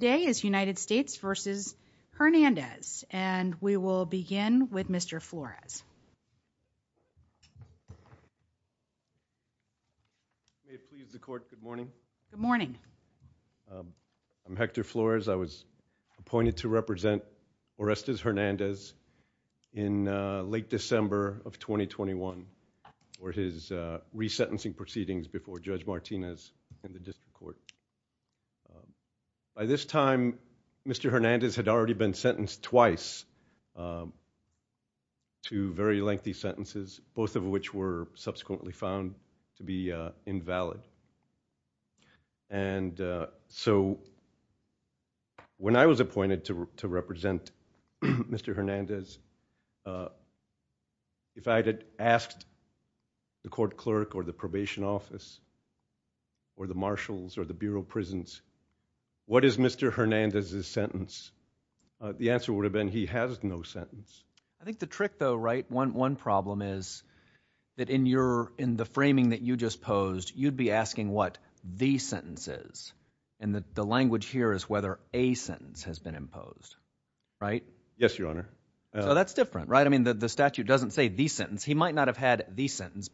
Today is United States v. Hernandez, and we will begin with Mr. Flores. May it please the Court, good morning. Good morning. I'm Hector Flores. I was appointed to represent Orestes Hernandez in late December of 2021 for his resentencing proceedings before Judge Martinez in the District Court. By this time, Mr. Hernandez had already been sentenced twice, two very lengthy sentences, both of which were subsequently found to be invalid. And so when I was appointed to represent Mr. Hernandez, if I had asked the court clerk or the probation office or the marshals or the Bureau of Prisons, what is Mr. Hernandez's sentence, the answer would have been he has no sentence. I think the trick though, right, one problem is that in the framing that you just posed, you'd be asking what the sentence is, and that the language here is whether a sentence has been imposed, right? Yes, Your Honor. So that's different, right? I mean, the statute doesn't say the sentence. He might not have had the sentence.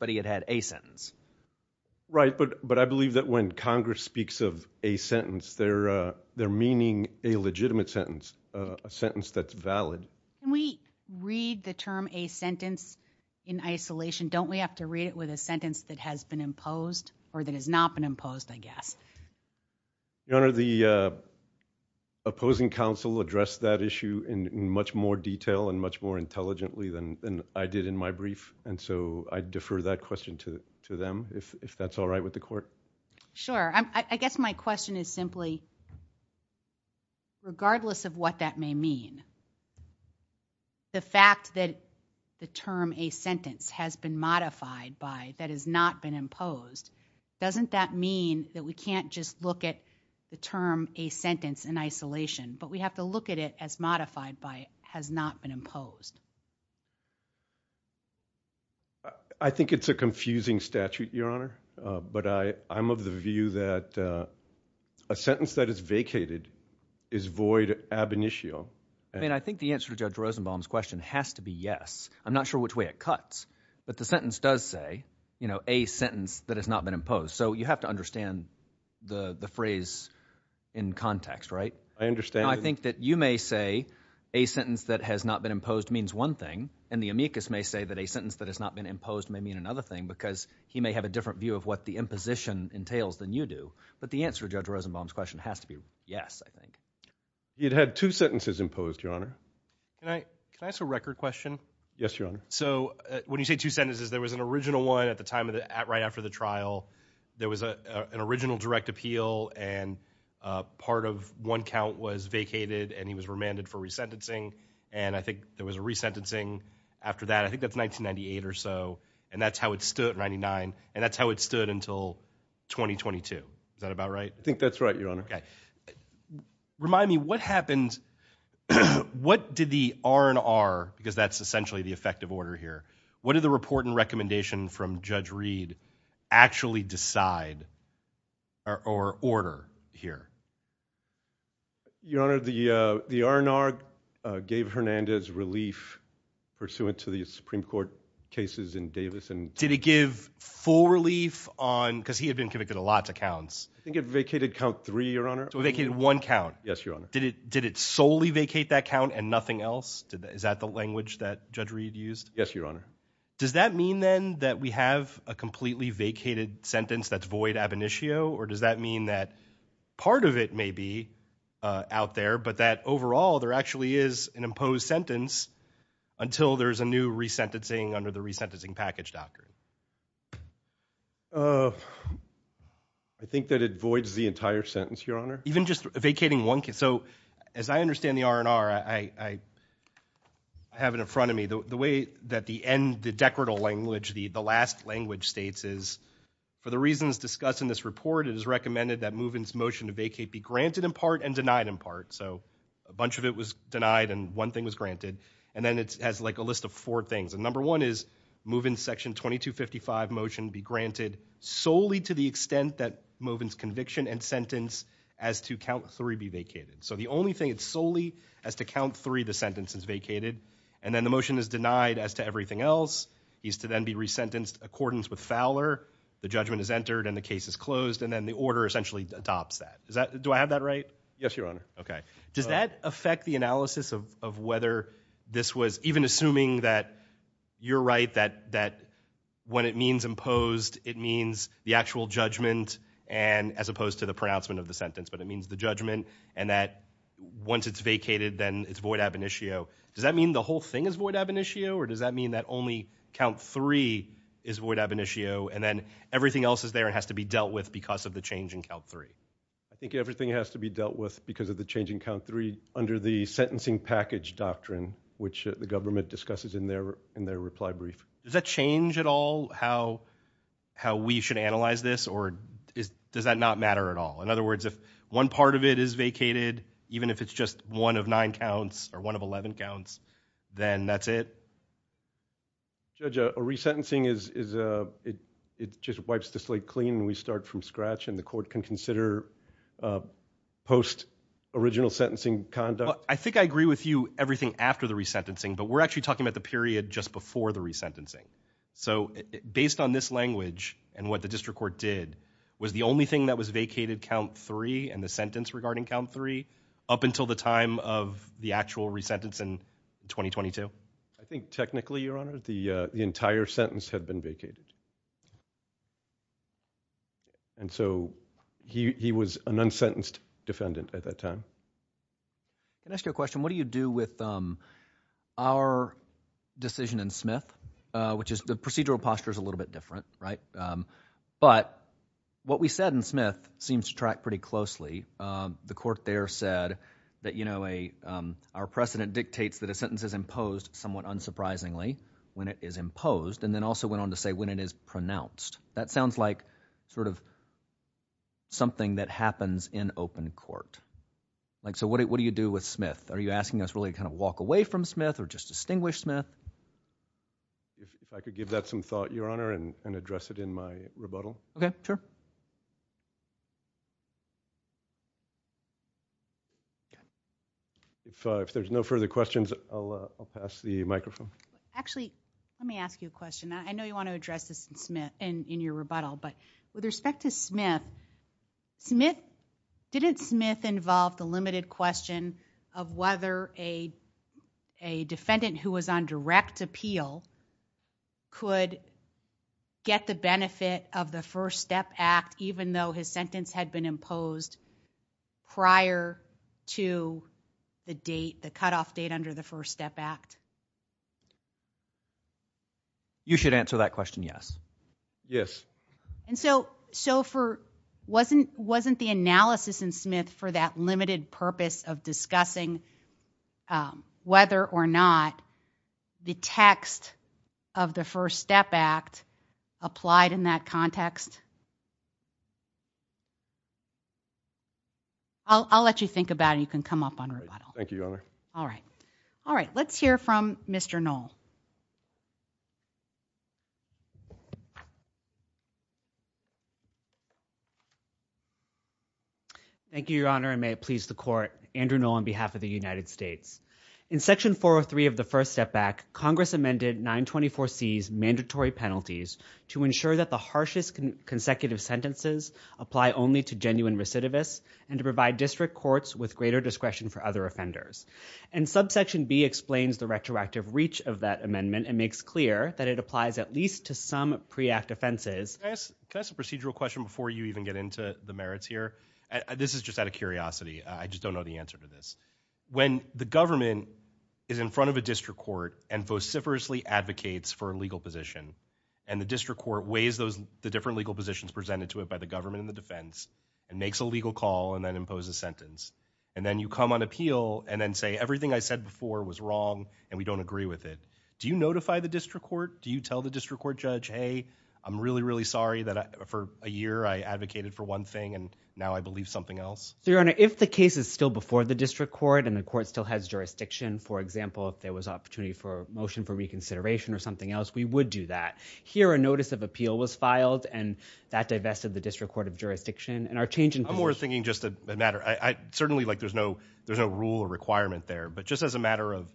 Right, but I believe that when Congress speaks of a sentence, they're meaning a legitimate sentence, a sentence that's valid. When we read the term a sentence in isolation, don't we have to read it with a sentence that has been imposed or that has not been imposed, I guess? Your Honor, the opposing counsel addressed that issue in much more detail and much more intelligently than I did in my brief, and so I defer that question to them, if that's all right with the court. Sure, I guess my question is simply, regardless of what that may mean, the fact that the term a sentence has been modified by, that has not been imposed, doesn't that mean that we can't just look at the term a sentence in isolation? I think it's a confusing statute, Your Honor, but I'm of the view that a sentence that is vacated is void ab initio. I mean, I think the answer to Judge Rosenbaum's question has to be yes. I'm not sure which way it cuts, but the sentence does say, you know, a sentence that has not been imposed, so you have to understand the the phrase in context, right? I understand. I think that you may say a sentence that has not been imposed means one thing, and the amicus may say that a sentence that has not been imposed may mean another thing, because he may have a different view of what the imposition entails than you do, but the answer to Judge Rosenbaum's question has to be yes, I think. You'd had two sentences imposed, Your Honor. Can I ask a record question? Yes, Your Honor. So when you say two sentences, there was an original one at the time of the, right after the trial, there was a an original direct appeal, and part of one count was vacated, and he was remanded for resentencing, and I think there was a resentencing after that, I think that's 1998 or so, and that's how it stood, 99, and that's how it stood until 2022. Is that about right? I think that's right, Your Honor. Okay. Remind me, what happened, what did the R&R, because that's essentially the effective order here, what did the report and recommendation from Judge Reed actually decide or order here? Your Honor, the the R&R gave Hernandez relief pursuant to the Supreme Court cases in Davis. Did it give full relief on, because he had been convicted of lots of counts. I think it vacated count three, Your Honor. So it vacated one count. Yes, Your Honor. Did it solely vacate that count and nothing else? Is that the language that Judge Reed used? Yes, Your Honor. Does that mean then that we have a completely vacated sentence that's void ab initio, or does that mean that part of it may be out there, but that overall there actually is an imposed sentence until there's a new resentencing under the resentencing package doctrine? I think that it voids the entire sentence, Your Honor. Even just vacating one case? So as I understand the R&R, I have it in front of me. The way that the end, the decretal language, the the last language states is, for the reasons discussed in this report, it is recommended that Moven's motion to vacate be granted in part and denied in part. So a bunch of it was denied and one thing was granted, and then it has like a list of four things. And number one is Moven's section 2255 motion be granted solely to the extent that Moven's conviction and sentence as to count three be vacated. So the only thing, it's solely as to count three the sentence is vacated, and then the motion is denied as to everything else. He's to then be resentenced accordance with Fowler. The judgment is entered and the case is closed, and then the order essentially adopts that. Is that, do I have that right? Yes, Your Honor. Okay. Does that affect the analysis of whether this was, even assuming that you're right, that when it means imposed, it means the actual judgment, and as opposed to the pronouncement of the sentence, but it means the judgment, and that once it's vacated, then it's void ab initio. Does that mean the whole thing is void ab initio, or does that mean that only count three is void ab initio, and then everything else is there and has to be dealt with because of the change in count three? I think everything has to be dealt with because of the change in count three under the sentencing package doctrine, which the government discusses in their reply brief. Does that change at all how we should analyze this, or does that not matter at all? In other words, if one part of it is vacated, even if it's just one of nine counts or one of 11 counts, then that's it? Judge, a resentencing is, it just wipes the original sentencing conduct? I think I agree with you everything after the resentencing, but we're actually talking about the period just before the resentencing. So based on this language and what the district court did, was the only thing that was vacated count three and the sentence regarding count three up until the time of the actual resentence in 2022? I think technically, Your Honor, the entire sentence had been vacated, and so he was an unsentenced defendant at that time. Can I ask you a question? What do you do with our decision in Smith, which is the procedural posture is a little bit different, right? But what we said in Smith seems to track pretty closely. The court there said that, you know, our precedent dictates that a sentence is imposed somewhat unsurprisingly when it is imposed, and then also went on to say when it is court. Like, so what do you do with Smith? Are you asking us really to kind of walk away from Smith or just distinguish Smith? If I could give that some thought, Your Honor, and address it in my rebuttal. Okay, sure. If there's no further questions, I'll pass the microphone. Actually, let me ask you a question. I know you want to address this in your rebuttal, but with respect to Smith, didn't Smith involve the limited question of whether a defendant who was on direct appeal could get the benefit of the First Step Act, even though his sentence had been imposed prior to the cutoff date under the First Step Act? You should answer that question, yes. Yes. And so, wasn't the analysis in Smith for that limited purpose of discussing whether or not the text of the First Step Act applied in that context? I'll let you think about it. You can come up on rebuttal. Thank you, Your Honor. All right. All right. Let's hear from Mr. Knoll. Thank you, Your Honor, and may it please the court, Andrew Knoll on behalf of the United States. In Section 403 of the First Step Act, Congress amended 924 C's mandatory penalties to ensure that the harshest consecutive sentences apply only to genuine recidivists and to provide district courts with greater discretion for other offenders. And Subsection B explains the retroactive reach of that amendment and makes clear that it applies at least to some pre-act offenses. Can I ask a procedural question before you even get into the merits here? This is just out of curiosity. I just don't know the answer to this. When the government is in front of a district court and vociferously advocates for a legal position, and the district court weighs the different legal positions presented to it by the government and the defense, and makes a decision, and you come on appeal and then say everything I said before was wrong and we don't agree with it, do you notify the district court? Do you tell the district court judge, hey, I'm really, really sorry that for a year I advocated for one thing and now I believe something else? So, Your Honor, if the case is still before the district court and the court still has jurisdiction, for example, if there was opportunity for motion for reconsideration or something else, we would do that. Here, a notice of appeal was filed and that divested the district court of jurisdiction, and our change in position... I'm more thinking just a matter. I certainly, like, there's no rule or requirement there, but just as a matter of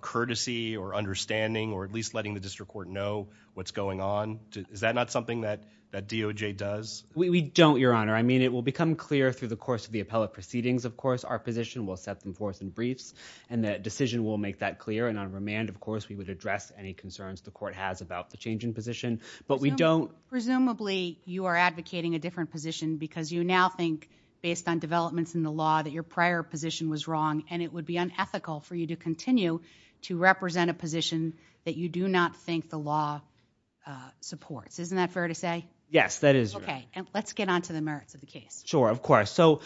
courtesy or understanding or at least letting the district court know what's going on, is that not something that that DOJ does? We don't, Your Honor. I mean, it will become clear through the course of the appellate proceedings, of course. Our position will set them forth in briefs, and the decision will make that clear, and on remand, of course, we would address any concerns the court has about the change in position, but we don't... Presumably, you are advocating a different position because you now think, based on developments in the law, that your prior position was wrong, and it would be unethical for you to continue to represent a position that you do not think the law supports. Isn't that fair to say? Yes, that is. Okay, and let's get on to the merits of the case. Sure, of course. So,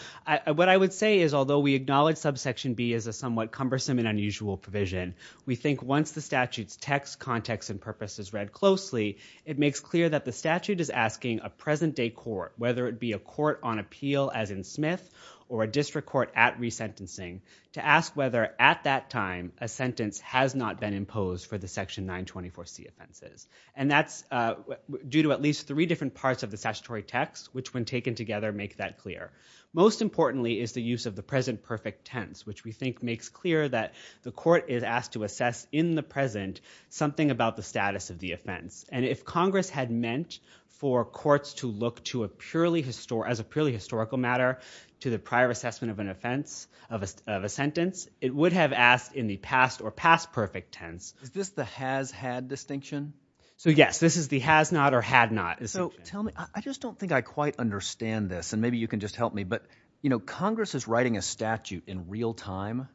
what I would say is, although we acknowledge subsection B is a somewhat cumbersome and unusual provision, we think once the statute's text, context, and purpose is read closely, it makes clear that the statute is asking a present-day court, whether it be a court on appeal, as in Smith, or a court at resentencing, to ask whether, at that time, a sentence has not been imposed for the section 924C offenses, and that's due to at least three different parts of the statutory text, which, when taken together, make that clear. Most importantly is the use of the present perfect tense, which we think makes clear that the court is asked to assess, in the present, something about the status of the offense, and if Congress had meant for courts to look to as a purely historical matter to the prior assessment of an offense, of a sentence, it would have asked in the past or past perfect tense. Is this the has-had distinction? So, yes, this is the has-not or had-not. So, tell me, I just don't think I quite understand this, and maybe you can just help me, but, you know, Congress is writing a statute in real time,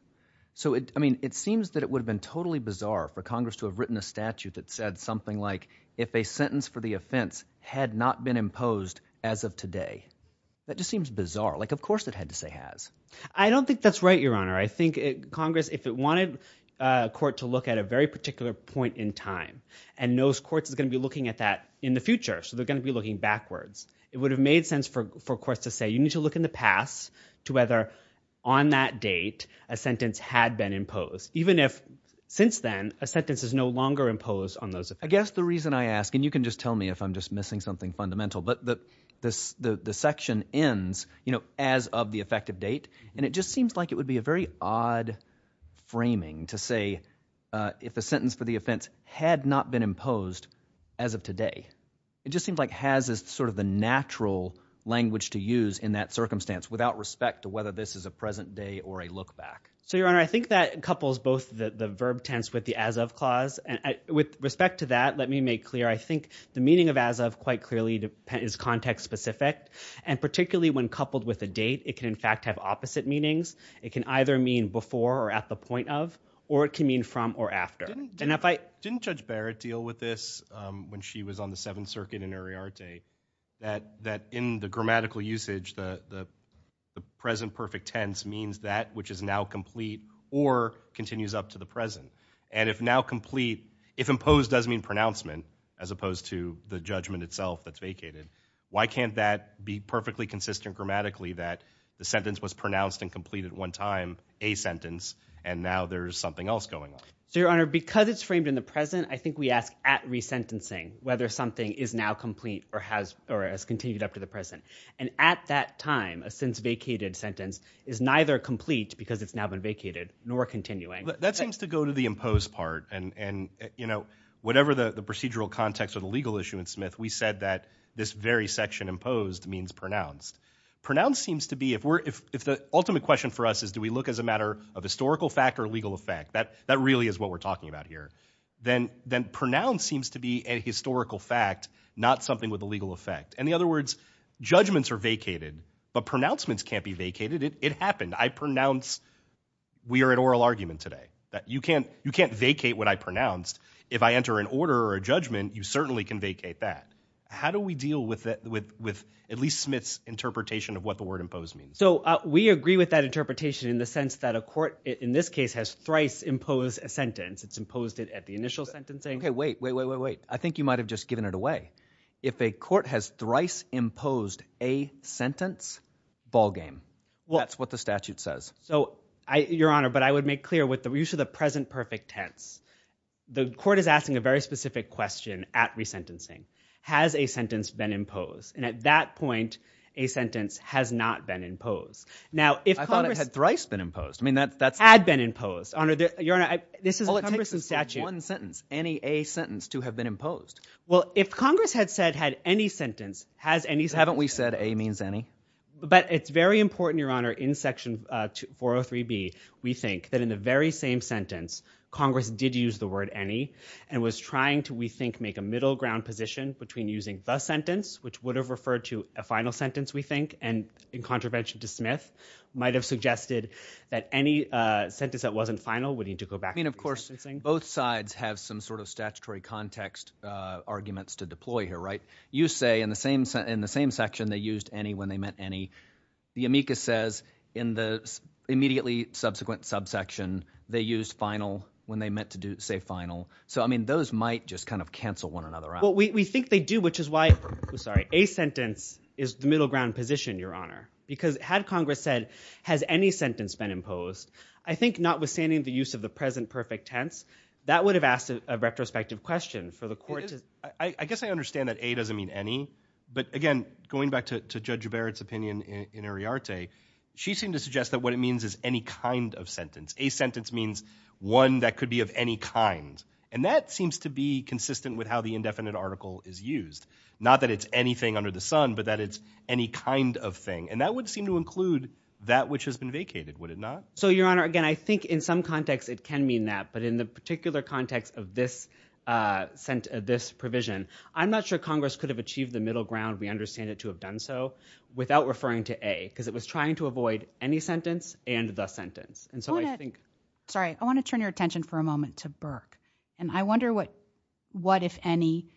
so it, I mean, it seems that it would have been totally bizarre for Congress to have written a statute that said something like, if a sentence for the offense had not been imposed as of today. That just seems bizarre. Like, of course it had to say has. I don't think that's right, Your Honor. I think Congress, if it wanted a court to look at a very particular point in time and knows courts is going to be looking at that in the future, so they're going to be looking backwards, it would have made sense for courts to say, you need to look in the past to whether on that date a sentence had been imposed, even if, since then, a sentence is no longer imposed on those. I guess the reason I ask, and you can just tell me if I'm just missing something fundamental, but the section ends, you know, as of the effective date, and it just seems like it would be a very odd framing to say if a sentence for the offense had not been imposed as of today. It just seems like has is sort of the natural language to use in that circumstance without respect to whether this is a present day or a look-back. So, Your Honor, I think that couples both the verb tense with the as-of clause, and with respect to that, let me make clear, I think the meaning of as-of quite clearly is context-specific, and particularly when coupled with a date, it can in fact have opposite meanings. It can either mean before or at the point of, or it can mean from or after. Didn't Judge Barrett deal with this when she was on the Seventh Circuit in Ariarte, that in the grammatical usage, the present perfect tense means that which is now complete or continues up to the present, and if now complete, if imposed does mean pronouncement as opposed to the judgment itself that's vacated, why can't that be perfectly consistent grammatically that the sentence was pronounced and completed one time, a sentence, and now there's something else going on? So, Your Honor, because it's framed in the present, I think we ask at resentencing whether something is now complete or has or has continued up to the present, and at that time, a since vacated sentence is neither complete because it's now been vacated nor continuing. That seems to go to the imposed part, and, you know, whatever the procedural context or the legal issue in Smith, we said that this very section imposed means pronounced. Pronounced seems to be, if the ultimate question for us is do we look as a matter of historical fact or legal effect, that really is what we're talking about here, then pronounced seems to be a historical fact, not something with a legal effect. In the other words, judgments are vacated, but pronouncements can't be vacated. It happened. I pronounce, we are at oral argument today, that you can't vacate what I pronounced. If I enter an order or a judgment, you certainly can vacate that. How do we deal with at least Smith's interpretation of what the word imposed means? So, we agree with that interpretation in the sense that a court, in this case, has thrice imposed a sentence. It's imposed it at the initial sentencing. Okay, wait, wait, wait, wait, wait. I think you might have just given it away. If a court has thrice imposed a sentence, what does the statute say? So, Your Honor, but I would make clear with the use of the present perfect tense, the court is asking a very specific question at resentencing. Has a sentence been imposed? And at that point, a sentence has not been imposed. I thought it had thrice been imposed. I mean, that's... Had been imposed. Your Honor, this is Congress's statute. All it takes is one sentence, any A sentence to have been imposed. Well, if Congress had said had any sentence, has any... Haven't we said A means any? But it's very important, Your Honor, in Section 403B, we think that in the very same sentence, Congress did use the word any and was trying to, we think, make a middle ground position between using the sentence, which would have referred to a final sentence, we think, and in contravention to Smith, might have suggested that any sentence that wasn't final would need to go back to resentencing. I mean, of course, both sides have some sort of statutory context arguments to deploy here, right? You say in the same section they used any when they meant any. The amicus says in the immediately subsequent subsection, they used final when they meant to do, say, final. So, I mean, those might just kind of cancel one another out. Well, we think they do, which is why, I'm sorry, A sentence is the middle ground position, Your Honor, because had Congress said has any sentence been imposed, I think notwithstanding the use of the present perfect tense, that would have asked a retrospective question for the court. I guess I understand that A doesn't mean any, but, again, going back to Judge Barrett's opinion in Ariarte, she seemed to suggest that what it means is any kind of sentence. A sentence means one that could be of any kind, and that seems to be consistent with how the indefinite article is used. Not that it's anything under the sun, but that it's any kind of thing, and that would seem to include that which has been vacated, would it not? So, Your Honor, again, I think in some context it can mean that, but in the particular context of this provision, I'm not sure Congress could have achieved the middle ground we understand it to have done so without referring to A, because it was trying to avoid any sentence and the sentence. And so, I think, sorry, I want to turn your attention for a moment to Burke, and I wonder what if any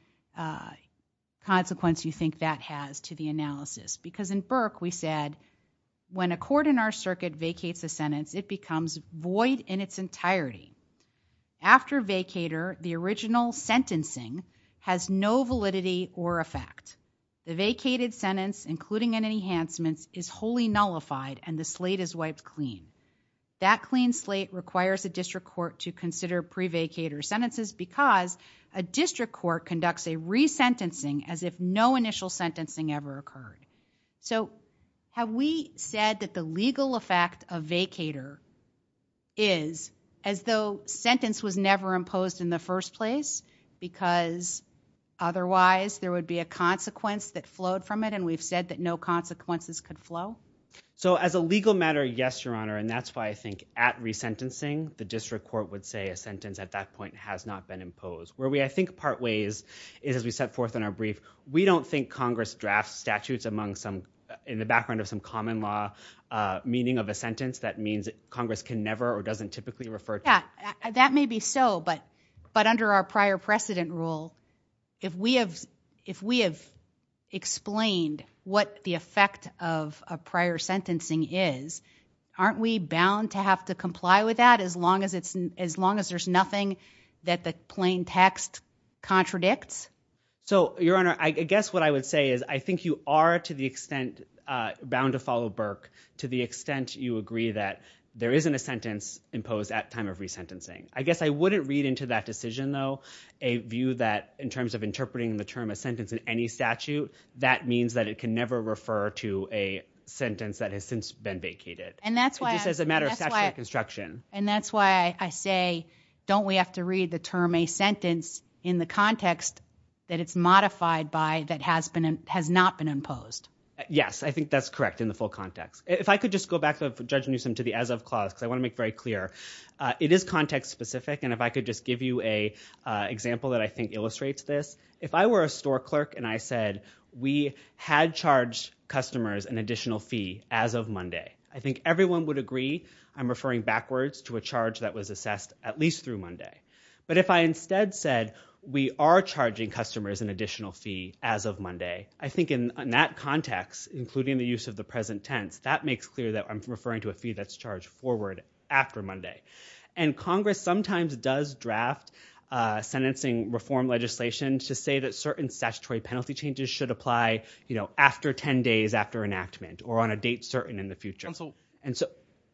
consequence you think that has to the analysis, because in Burke we said when a court in our in its entirety, after vacator, the original sentencing has no validity or effect. The vacated sentence, including any enhancements, is wholly nullified and the slate is wiped clean. That clean slate requires a district court to consider pre-vacator sentences because a district court conducts a resentencing as if no initial sentencing ever occurred. So, have we said that the legal effect of vacator is as though sentence was never imposed in the first place because otherwise there would be a consequence that flowed from it, and we've said that no consequences could flow? So, as a legal matter, yes, Your Honor, and that's why I think at resentencing the district court would say a sentence at that point has not been imposed. Where we, I think, part ways is as we set forth in our brief, we don't think Congress drafts statutes among some, in the meaning of a sentence, that means Congress can never or doesn't typically refer to it. Yeah, that may be so, but under our prior precedent rule, if we have explained what the effect of a prior sentencing is, aren't we bound to have to comply with that as long as there's nothing that the plain text contradicts? So, Your Honor, I guess what I would say is I think you are, to the extent, bound to the extent you agree that there isn't a sentence imposed at time of resentencing. I guess I wouldn't read into that decision, though, a view that in terms of interpreting the term a sentence in any statute, that means that it can never refer to a sentence that has since been vacated. And that's why, as a matter of construction, and that's why I say don't we have to read the term a sentence in the context that it's modified by that has not been imposed? Yes, I agree with that context. If I could just go back, Judge Newsom, to the as of clause, because I want to make very clear. It is context specific, and if I could just give you an example that I think illustrates this. If I were a store clerk and I said we had charged customers an additional fee as of Monday, I think everyone would agree I'm referring backwards to a charge that was assessed at least through Monday. But if I instead said we are charging customers an additional fee as of Monday, I think in that context, including the use of the present tense, that makes clear that I'm referring to a fee that's charged forward after Monday. And Congress sometimes does draft sentencing reform legislation to say that certain statutory penalty changes should apply, you know, after 10 days after enactment or on a date certain in the future.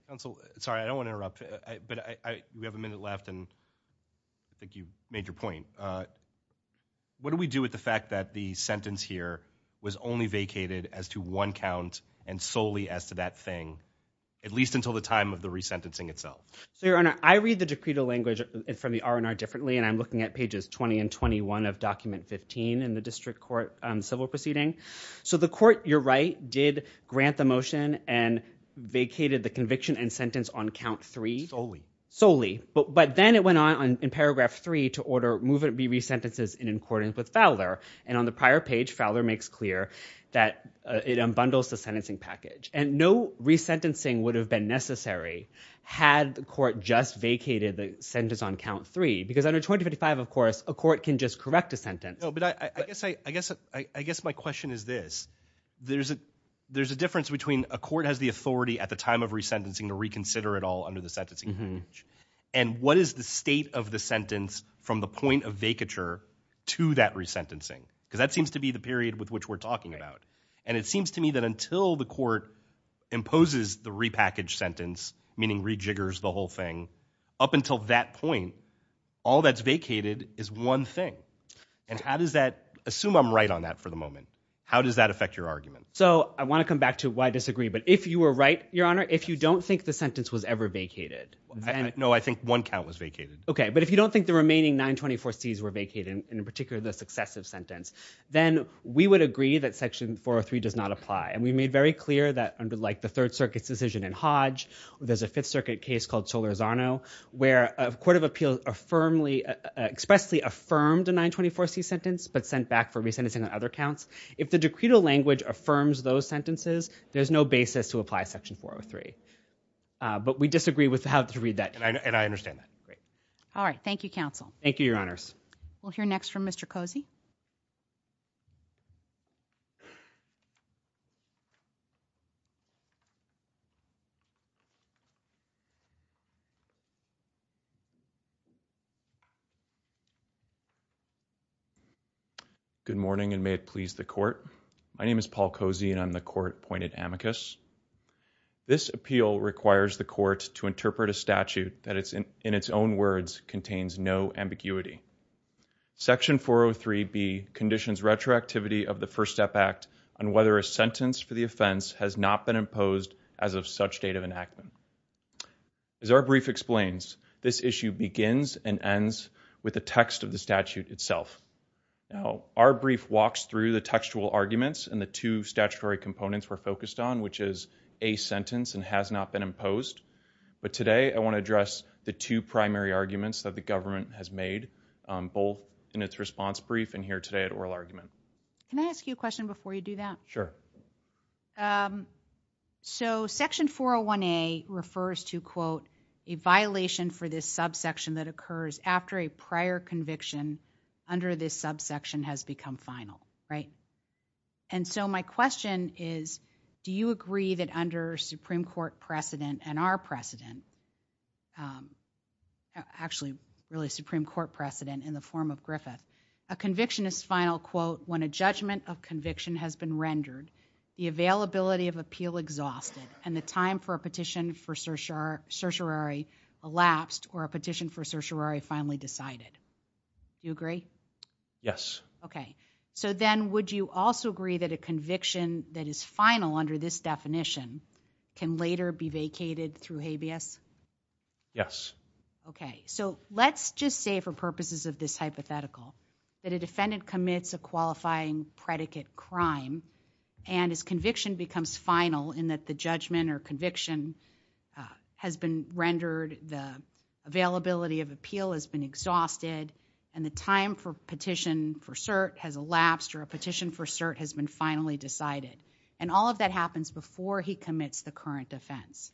Counsel, sorry, I don't want to interrupt, but we have a minute left and I think you made your point. What do we do with the fact that the sentence here was only vacated as to one count and solely as to that thing, at least until the time of the resentencing itself? So your honor, I read the decree to language from the R&R differently and I'm looking at pages 20 and 21 of document 15 in the district court civil proceeding. So the court, you're right, did grant the motion and vacated the conviction and sentence on count three solely. But then it went on in paragraph three to order move it be resentences in accordance with page Fowler makes clear that it unbundles the sentencing package. And no resentencing would have been necessary had the court just vacated the sentence on count three. Because under 2055, of course, a court can just correct a sentence. I guess my question is this. There's a difference between a court has the authority at the time of resentencing to reconsider it all under the sentencing package. And what is the state of the sentence from the point of resentencing? Because that seems to be the period with which we're talking about. And it seems to me that until the court imposes the repackage sentence, meaning rejiggers the whole thing, up until that point, all that's vacated is one thing. And how does that, assume I'm right on that for the moment, how does that affect your argument? So I want to come back to why disagree. But if you were right, your honor, if you don't think the sentence was ever vacated. No, I think one count was vacated. Okay, but if you don't think the remaining 924 C's were vacated, in particular the successive sentence, then we would agree that section 403 does not apply. And we made very clear that under like the Third Circuit's decision in Hodge, there's a Fifth Circuit case called Solorzano, where a court of appeals expressly affirmed a 924 C sentence, but sent back for resentencing on other counts. If the decretal language affirms those sentences, there's no basis to apply section 403. But we disagree with how to read that. And I understand that. Great. All right. Thank you, counsel. Thank you, your honors. We'll hear next from Mr Cozy. Good morning, and may it please the court. My name is Paul Cozy, and I'm the court appointed amicus. This appeal requires the court to interpret a Section 403 B conditions retroactivity of the First Step Act on whether a sentence for the offense has not been imposed as of such date of enactment. As our brief explains, this issue begins and ends with the text of the statute itself. Now, our brief walks through the textual arguments and the two statutory components were focused on, which is a sentence and has not been imposed. But today I want to address the two primary arguments that the both in its response brief and here today at oral argument. Can I ask you a question before you do that? Sure. Um, so Section 401 A refers to quote a violation for this subsection that occurs after a prior conviction under this subsection has become final, right? And so my question is, do you agree that under Supreme Court precedent and our precedent um, actually really Supreme Court precedent in the form of Griffith, a conviction is final quote when a judgment of conviction has been rendered the availability of appeal exhausted and the time for a petition for searcher certiorari elapsed or a petition for certiorari finally decided. You agree? Yes. Okay. So then would you also agree that a conviction that is final under this definition can later be vacated through habeas? Yes. Okay. So let's just say for purposes of this hypothetical that a defendant commits a qualifying predicate crime and his conviction becomes final in that the judgment or conviction has been rendered. The availability of appeal has been exhausted and the time for petition for cert has elapsed or a petition for cert has been finally decided. And all of that happens before he commits the current offense,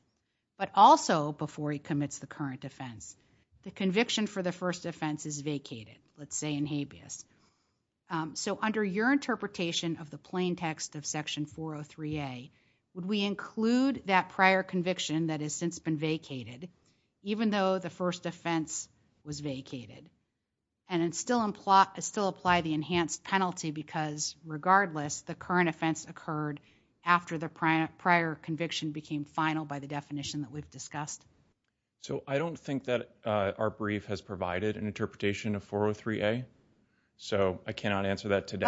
but also before he commits the current offense, the conviction for the first offense is vacated, let's say in habeas. Um, so under your interpretation of the plain text of Section 403 A, would we include that prior conviction that has since been vacated even though the first offense was vacated and it's still implied, still apply the enhanced penalty because regardless the current offense occurred after the prior conviction became final by the definition that we've discussed. So I don't think that our brief has provided an interpretation of 403 A. So I cannot answer that today.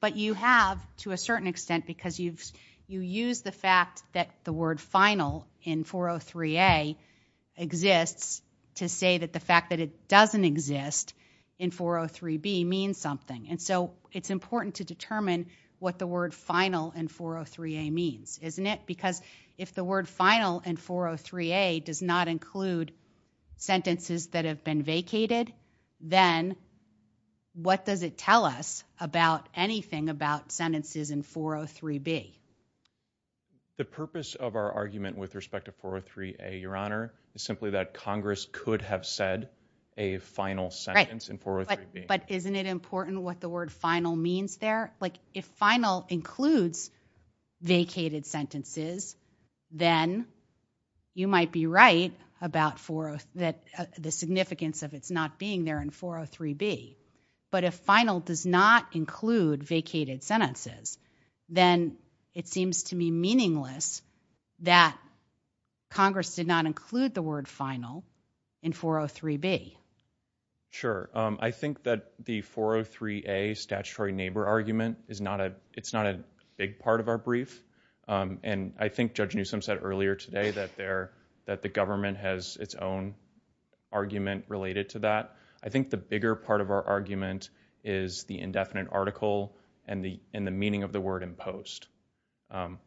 But you have to a certain extent because you've you use the fact that the word final in 403 A exists to say that the fact that it it's important to determine what the word final and 403 A means, isn't it? Because if the word final and 403 A does not include sentences that have been vacated, then what does it tell us about anything about sentences in 403 B? The purpose of our argument with respect to 403 A. Your honor is simply that Congress could have said a final sentence in 403 B. But isn't it important what the word final means there? Like if final includes vacated sentences, then you might be right about that the significance of it's not being there in 403 B. But if final does not include vacated sentences, then it seems to me meaningless that Congress did not include the word final in 403 B. Sure. I think that the 403 A statutory neighbor argument is not a, it's not a big part of our brief. Um, and I think Judge Newsome said earlier today that there that the government has its own argument related to that. I think the bigger part of our argument is the indefinite article and the and the meaning of the word imposed. Um,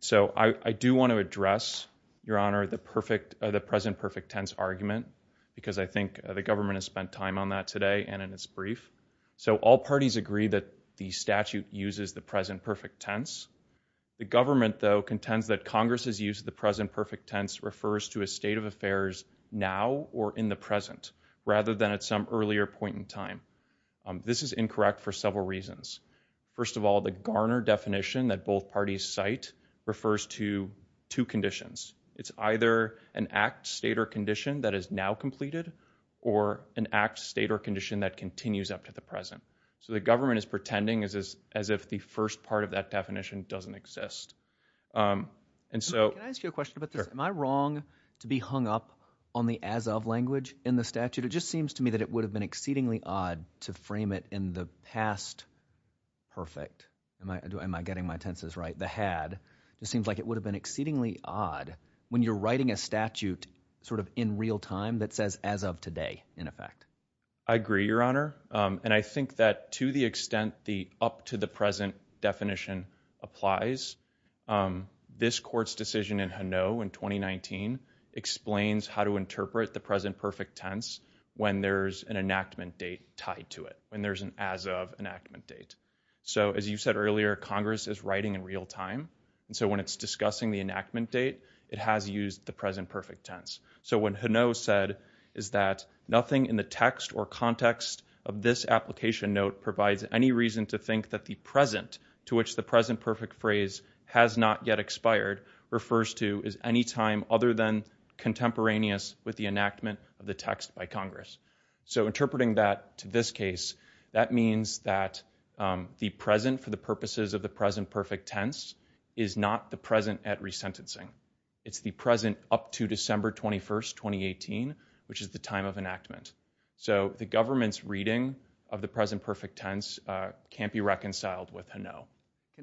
so I do want to address your honor the perfect, the present perfect tense argument because I think the government has spent time on that today and in its brief. So all parties agree that the statute uses the present perfect tense. The government though contends that Congress has used the present perfect tense refers to a state of affairs now or in the present rather than at some earlier point in time. Um, this is incorrect for several reasons. First of all, the Garner definition that both parties site refers to two conditions. It's either an act state or condition that is now completed or an act state or condition that continues up to the present. So the government is pretending is as if the first part of that definition doesn't exist. Um, and so can I ask you a question about this? Am I wrong to be hung up on the as of language in the statute? It just seems to me that it would have been exceedingly odd to frame it in the past. Perfect. Am I am I getting my tenses right? The had just seems like it would have been exceedingly odd when you're writing a statute sort of in real time that says as of today in effect, I agree your honor. Um, and I think that to the extent the up to the present definition applies, um, this court's decision in Hanoi in 2019 explains how to interpret the present perfect tense when there's an enactment date tied to it when there's an as of enactment date. So as you said earlier, Congress is writing in real time. And so when it's discussing the enactment date, it has used the present perfect tense. So when Hanoi said is that nothing in the text or context of this application note provides any reason to think that the present to which the present perfect phrase has not yet expired refers to is any time other than contemporaneous with the enactment of the text by Congress. So interpreting that to this case, that means that, um, the present for the purposes of the present perfect tense is not the present at resentencing. It's the present up to December 21st, 2018, which is the time of enactment. So the government's reading of the present perfect tense can't be reconciled with Hanoi.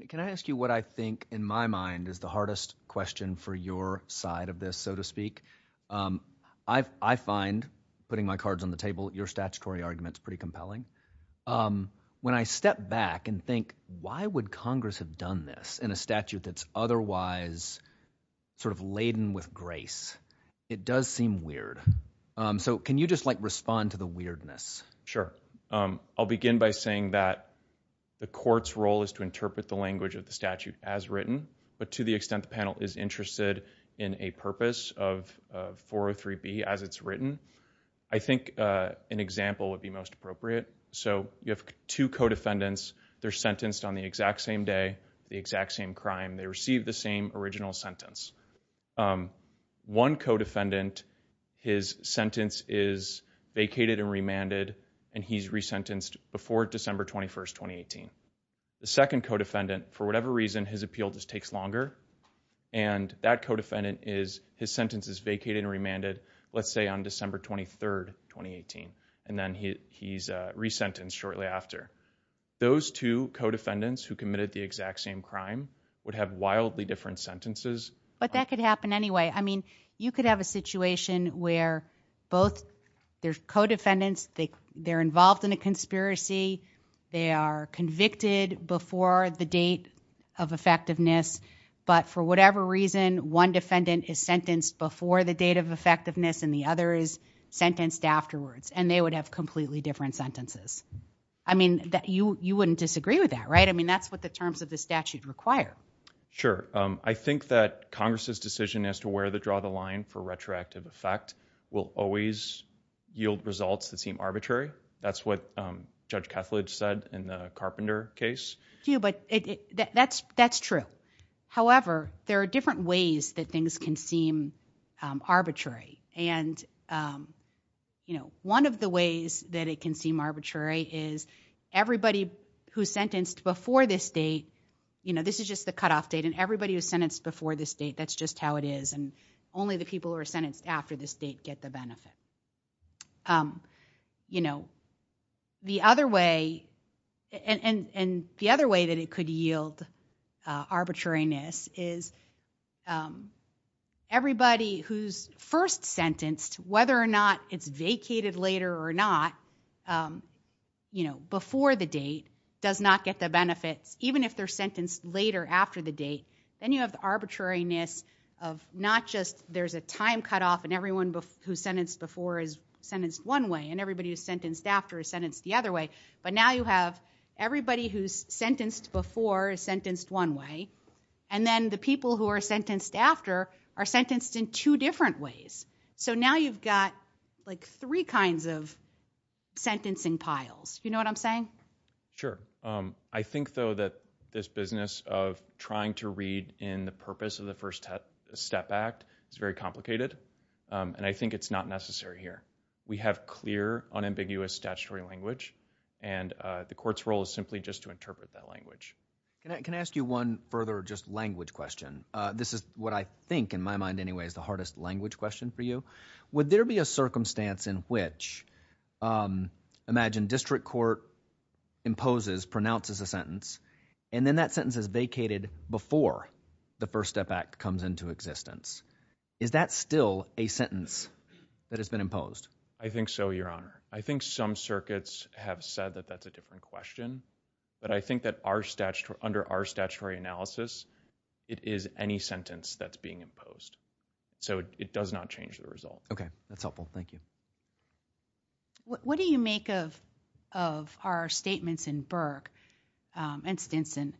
Can I ask you what I think in my mind is the hardest question for your side of this, so to I find putting my cards on the table, your statutory arguments pretty compelling. Um, when I step back and think, why would Congress have done this in a statute that's otherwise sort of laden with grace? It does seem weird. Um, so can you just, like, respond to the weirdness? Sure. Um, I'll begin by saying that the court's role is to interpret the language of the statute as written, but to the extent the panel is interested in a purpose of 403B as it's written, I think, uh, an example would be most appropriate. So you have two co-defendants. They're sentenced on the exact same day, the exact same crime. They received the same original sentence. Um, one co-defendant, his sentence is vacated and remanded, and he's resentenced before December 21st, 2018. The second co-defendant, for whatever reason, his appeal just takes longer. And that co-defendant is his sentence is vacated and remanded, let's say, on December 23rd, 2018. And then he's resentenced shortly after. Those two co-defendants who committed the exact same crime would have wildly different sentences. But that could happen anyway. I mean, you could have a situation where both their co-defendants, they're involved in a conspiracy. They are convicted before the date of effectiveness. But for whatever reason, one defendant is sentenced before the date of effectiveness, and the other is sentenced afterwards. And they would have completely different sentences. I mean, you wouldn't disagree with that, right? I mean, that's what the terms of the statute require. Sure. I think that Congress's decision as to where to draw the line for retroactive effect will always yield results that seem arbitrary. That's what Judge Kethledge said in the Carpenter case. Yeah, but that's true. However, there are different ways that things can seem arbitrary. And, you know, one of the ways that it can seem arbitrary is everybody who's sentenced before this date, you know, this is just the cutoff date. And everybody who's sentenced before this date, that's just how it is. And only the people who are sentenced after this date get the benefits. The other way, and the other way that it could yield arbitrariness is everybody who's first sentenced, whether or not it's vacated later or not, you know, before the date does not get the benefits, even if they're sentenced later after the date. Then you have the arbitrariness of not just there's a time cut off and everyone who's sentenced before is sentenced one way and everybody who's sentenced after is sentenced the other way. But now you have everybody who's sentenced before is sentenced one way. And then the people who are sentenced after are sentenced in two different ways. So now you've got like three kinds of sentencing piles. You know what I'm saying? Sure. I think, though, that this business of trying to read in the purpose of the First Step Act, it's very complicated. And I think it's not necessary here. We have clear, unambiguous statutory language, and the court's role is simply just to interpret that language. Can I ask you one further just language question? This is what I think, in my mind, anyway, is the hardest language question for you. Would there be a circumstance in which, imagine district court imposes, pronounces a sentence, and then that sentence is vacated before the First Step Act comes into existence? Is that still a sentence that has been imposed? I think so, Your Honor. I think some circuits have said that that's a different question. But I think that under our statutory analysis, it is any sentence that's being imposed. So it does not change the result. Okay, that's helpful. Thank you. What do you make of our statements in Burke and Stinson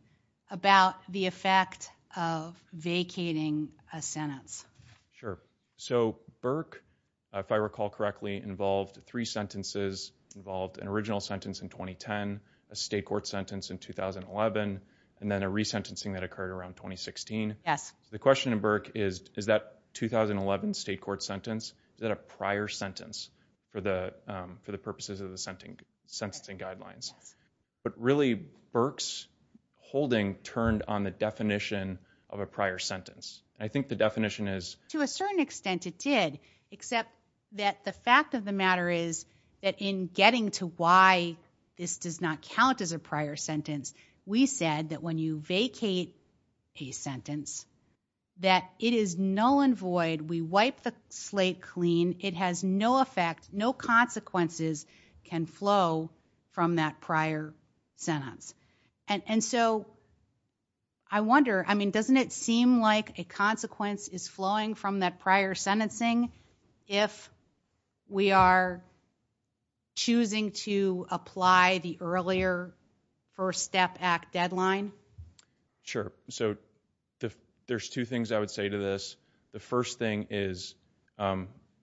about the effect of vacating a sentence? Sure. So Burke, if I recall correctly, involved three sentences, involved an original sentence in 2010, a state court sentence in 2011, and then a resentencing that occurred around 2016. Yes. The question in Burke is, is that 2011 state court sentence, is that a prior sentence for the purposes of the sentencing guidelines? But really, Burke's holding turned on the definition of a prior sentence. I think the definition is... To a certain extent it did, except that the fact of the matter is that in getting to why this does not count as a prior sentence, we said that when you vacate a sentence, that it is null and void, we wipe the slate clean, it has no effect, no consequences can flow from that prior sentence. And so I wonder, I mean, doesn't it seem like a consequence is flowing from that prior sentencing if we are choosing to apply the earlier First Step Act deadline? Sure. So there's two things I would say to this. The first thing is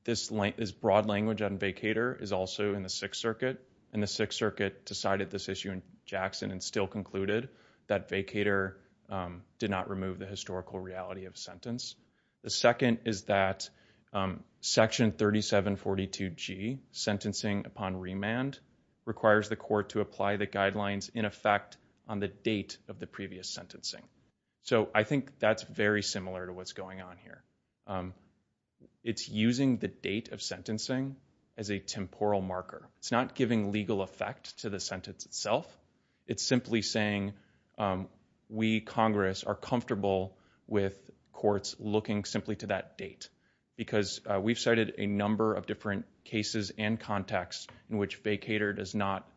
this broad language on vacater is also in the Sixth Circuit, and the Sixth Circuit decided this issue in Jackson and still concluded that vacater did not remove the historical reality of sentence. The second is that Section 3742G, sentencing upon remand, requires the court to apply the guidelines in effect on the date of the previous sentencing. So I think that's very similar to what's going on as a temporal marker. It's not giving legal effect to the sentence itself. It's simply saying we, Congress, are comfortable with courts looking simply to that date, because we've cited a number of different cases and contexts in which vacater does not,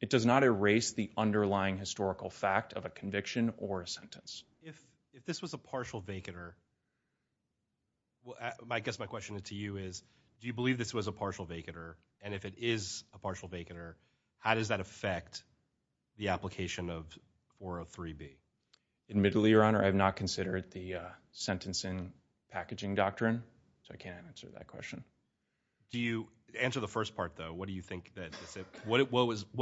it does not erase the underlying historical fact of a conviction or a sentence. If this was a partial vacater, well, I guess my question to you is, do you believe this was a partial vacater? And if it is a partial vacater, how does that affect the application of 403B? Admittedly, Your Honor, I have not considered the sentencing packaging doctrine, so I can't answer that question. Do you answer the first part, though? What do you think that, what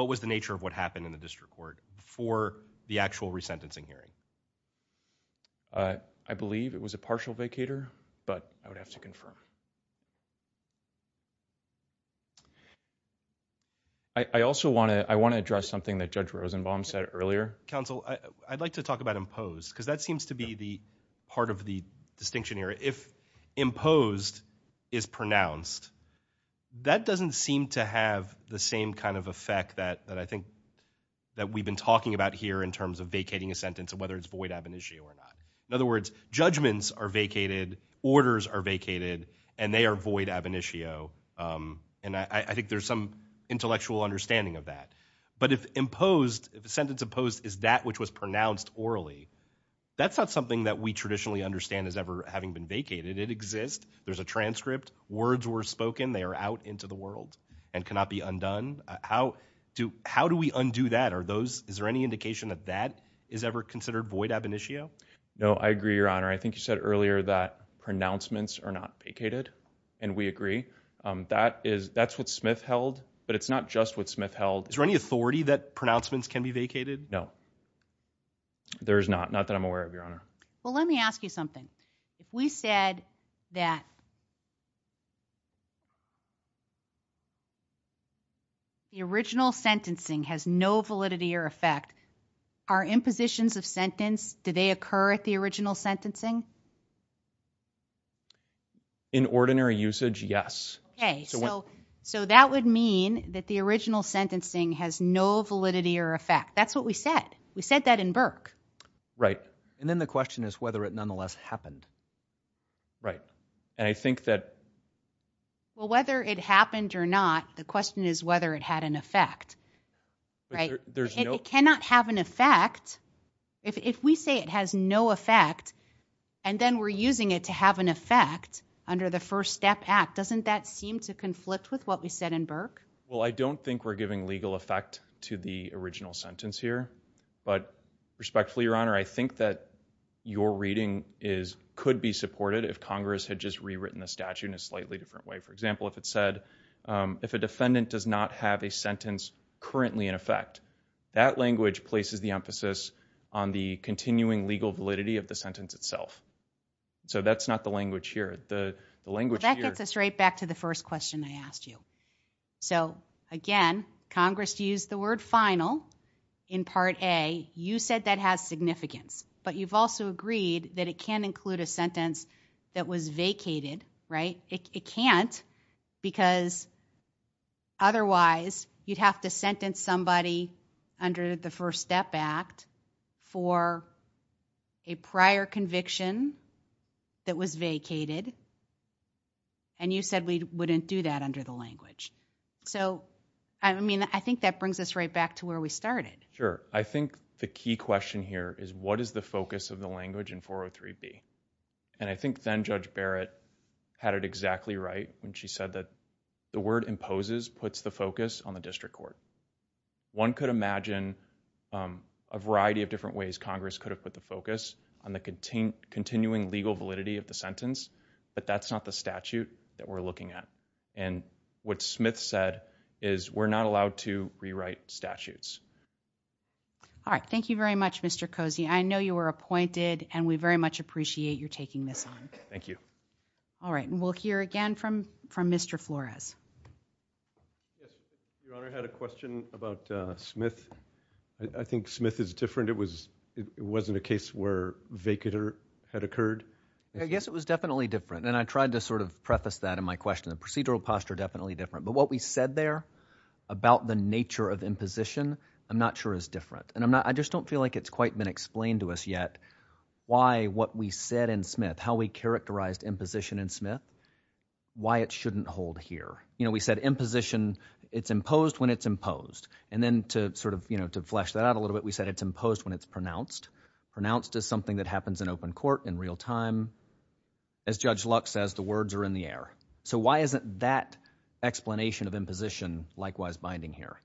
was the nature of what happened in the district court before the actual resentencing hearing? I believe it was a partial vacater, but I would have to confirm. I also want to, I want to address something that Judge Rosenbaum said earlier. Counsel, I'd like to talk about imposed, because that seems to be the part of the distinction here. If imposed is pronounced, that doesn't seem to have the same kind of effect that I think that we've been talking about here in terms of vacating a sentence and whether it's void ab initio or not. In other words, judgments are vacated, orders are vacated, and they are void ab initio. And I think there's some intellectual understanding of that. But if imposed, if a sentence imposed is that which was pronounced orally, that's not something that we traditionally understand as ever having been vacated. It exists. There's a transcript. Words were spoken. They are out into the world and cannot be undone. How do, how do we undo that? Are those, is there any indication that that is ever considered void ab initio? No, I agree, Your Honor. I think you said earlier that pronouncements are not vacated and we agree, um, that is, that's what Smith held, but it's not just what Smith held. Is there any authority that pronouncements can be vacated? No, there's not. Not that I'm aware of, Your Honor. Well, let me ask you something. If we said that the original sentencing has no validity or effect, are impositions of sentence, do they occur at the original sentencing? In ordinary usage, yes. Okay. So, so that would mean that the original sentencing has no validity or effect. That's what we said. We said that in Burke. Right. And then the question is whether it nonetheless happened. Right. And I think that. Well, whether it happened or not, the question is whether it had an effect. Right. There's no, it cannot have an effect. If, if we say it has no effect and then we're using it to have an effect under the first step act, doesn't that seem to conflict with what we said in Burke? Well, I don't think we're giving legal effect to the original sentence here, but respectfully, Your Honor, I think that your reading is, could be supported if Congress had just rewritten the statute in a slightly different way. For example, if it said, um, if a defendant does not have a sentence currently in effect, that language places the emphasis on the continuing legal validity of the sentence itself. So that's not the language here. The language here. That gets us right back to the first question I asked you. So again, Congress used the word final in part a, you said that has significance, but you've also agreed that it can include a sentence that was vacated, right? It can't because otherwise you'd have to sentence somebody under the first step act for a prior conviction that was vacated and you said we wouldn't do that under the language. So, I mean, I think that brings us right back to where we started. Sure. I think the key question here is what is the focus of the language in 403B? And I think then Judge Barrett had it exactly right when she said that the word imposes puts the focus on the district court. One could imagine, um, a variety of different ways Congress could have put the focus on the continuing legal validity of the sentence, but that's not the statute that we're looking at. And what Smith said is we're not allowed to rewrite statutes. All right. Thank you very much, Mr. Cozy. I know you were appointed and we very much appreciate you're taking this on. Thank you. All right. And we'll hear again from, from Mr. Flores. Yes, your honor had a question about, uh, Smith. I think Smith is different. It was, it wasn't a case where vacater had occurred. I guess it was definitely different. And I tried to sort of preface that in my question, the procedural posture, definitely different. But what we said there about the nature of imposition, I'm not sure is different. And I'm not, I just don't feel like it's quite been explained to us yet. Why, what we said in Smith, how we characterized imposition in Smith, why it shouldn't hold here. You know, we said imposition it's imposed when it's imposed. And then to sort of, you know, to flesh that out a little bit, we said it's imposed when it's pronounced, pronounced as something that happens in open court in real time. As judge Lux says, the words are in the air. So why isn't that explanation of imposition likewise binding here?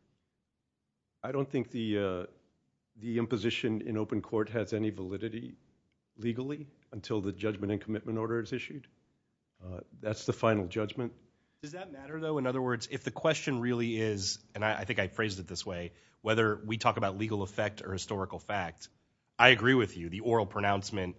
I don't think the, uh, the imposition in open court has any validity legally until the judgment and commitment order is issued. Uh, that's the final judgment. Does that matter though? In other words, if the question really is, and I think I phrased it this way, whether we talk about legal effect or historical fact, I agree with you. The oral pronouncement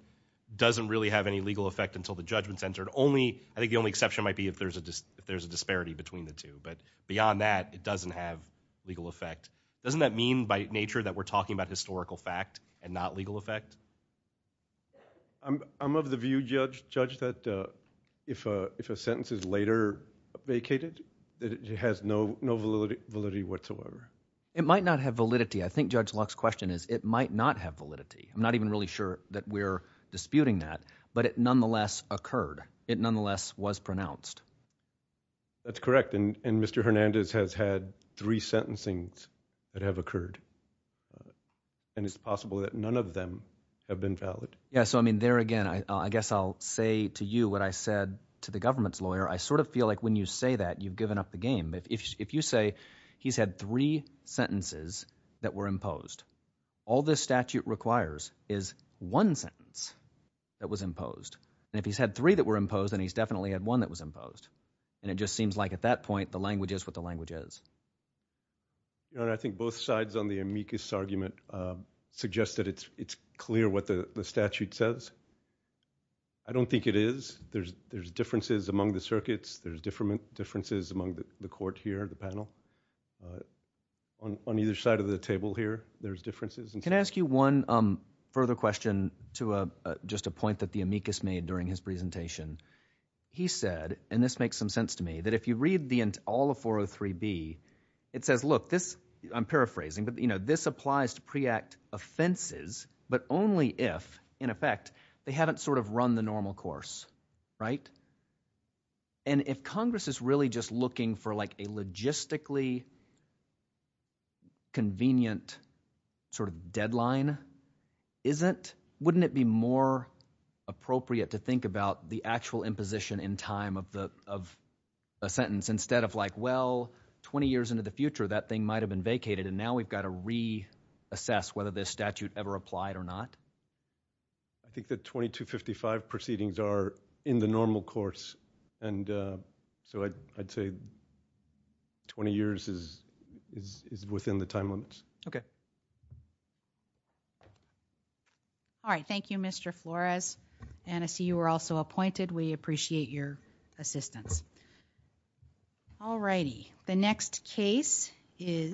doesn't really have any legal effect until the judgment's entered only, I think the only exception might be if there's a, just, if there's a disparity between the two, but beyond that, it doesn't have legal effect, doesn't that mean by nature that we're talking about historical fact and not legal effect? I'm, I'm of the view judge, judge that, uh, if, uh, if a sentence is later vacated, that it has no, no validity, validity whatsoever. It might not have validity. I think judge Lux question is it might not have validity. I'm not even really sure that we're disputing that, but it nonetheless occurred, it nonetheless was pronounced. That's correct. And, and Mr. Hernandez has had three sentencings that have occurred and it's possible that none of them have been valid. Yeah. So, I mean, there again, I, I guess I'll say to you what I said to the government's lawyer, I sort of feel like when you say that you've given up the game, if, if you say he's had three sentences that were imposed, all this statute requires is one sentence that was imposed. And if he's had three that were imposed and he's definitely had one that was imposed and it just seems like at that point, the language is what the language is. You know, and I think both sides on the amicus argument, uh, suggest that it's, it's clear what the statute says. I don't think it is. There's, there's differences among the circuits. There's different differences among the court here, the panel, uh, on, on either side of the table here, there's differences. Can I ask you one, um, further question to a, uh, just a point that the amicus made during his presentation, he said, and this makes some sense to me that if you read the, all the 403B, it says, look, this I'm paraphrasing, but you know, this applies to preact offenses, but only if in effect they haven't sort of run the normal course. Right. And if Congress is really just looking for like a logistically convenient sort of deadline, isn't, wouldn't it be more appropriate to think about the actual imposition in time of the, of a sentence instead of like, well, 20 years into the future, that thing might've been vacated. And now we've got to reassess whether this statute ever applied or not. I think that 2255 proceedings are in the normal course. And, uh, so I, I'd say 20 years is, is, is within the time limits. Okay. Okay. All right. Thank you, Mr. Flores. And I see you were also appointed. We appreciate your assistance. Alrighty. The next case is.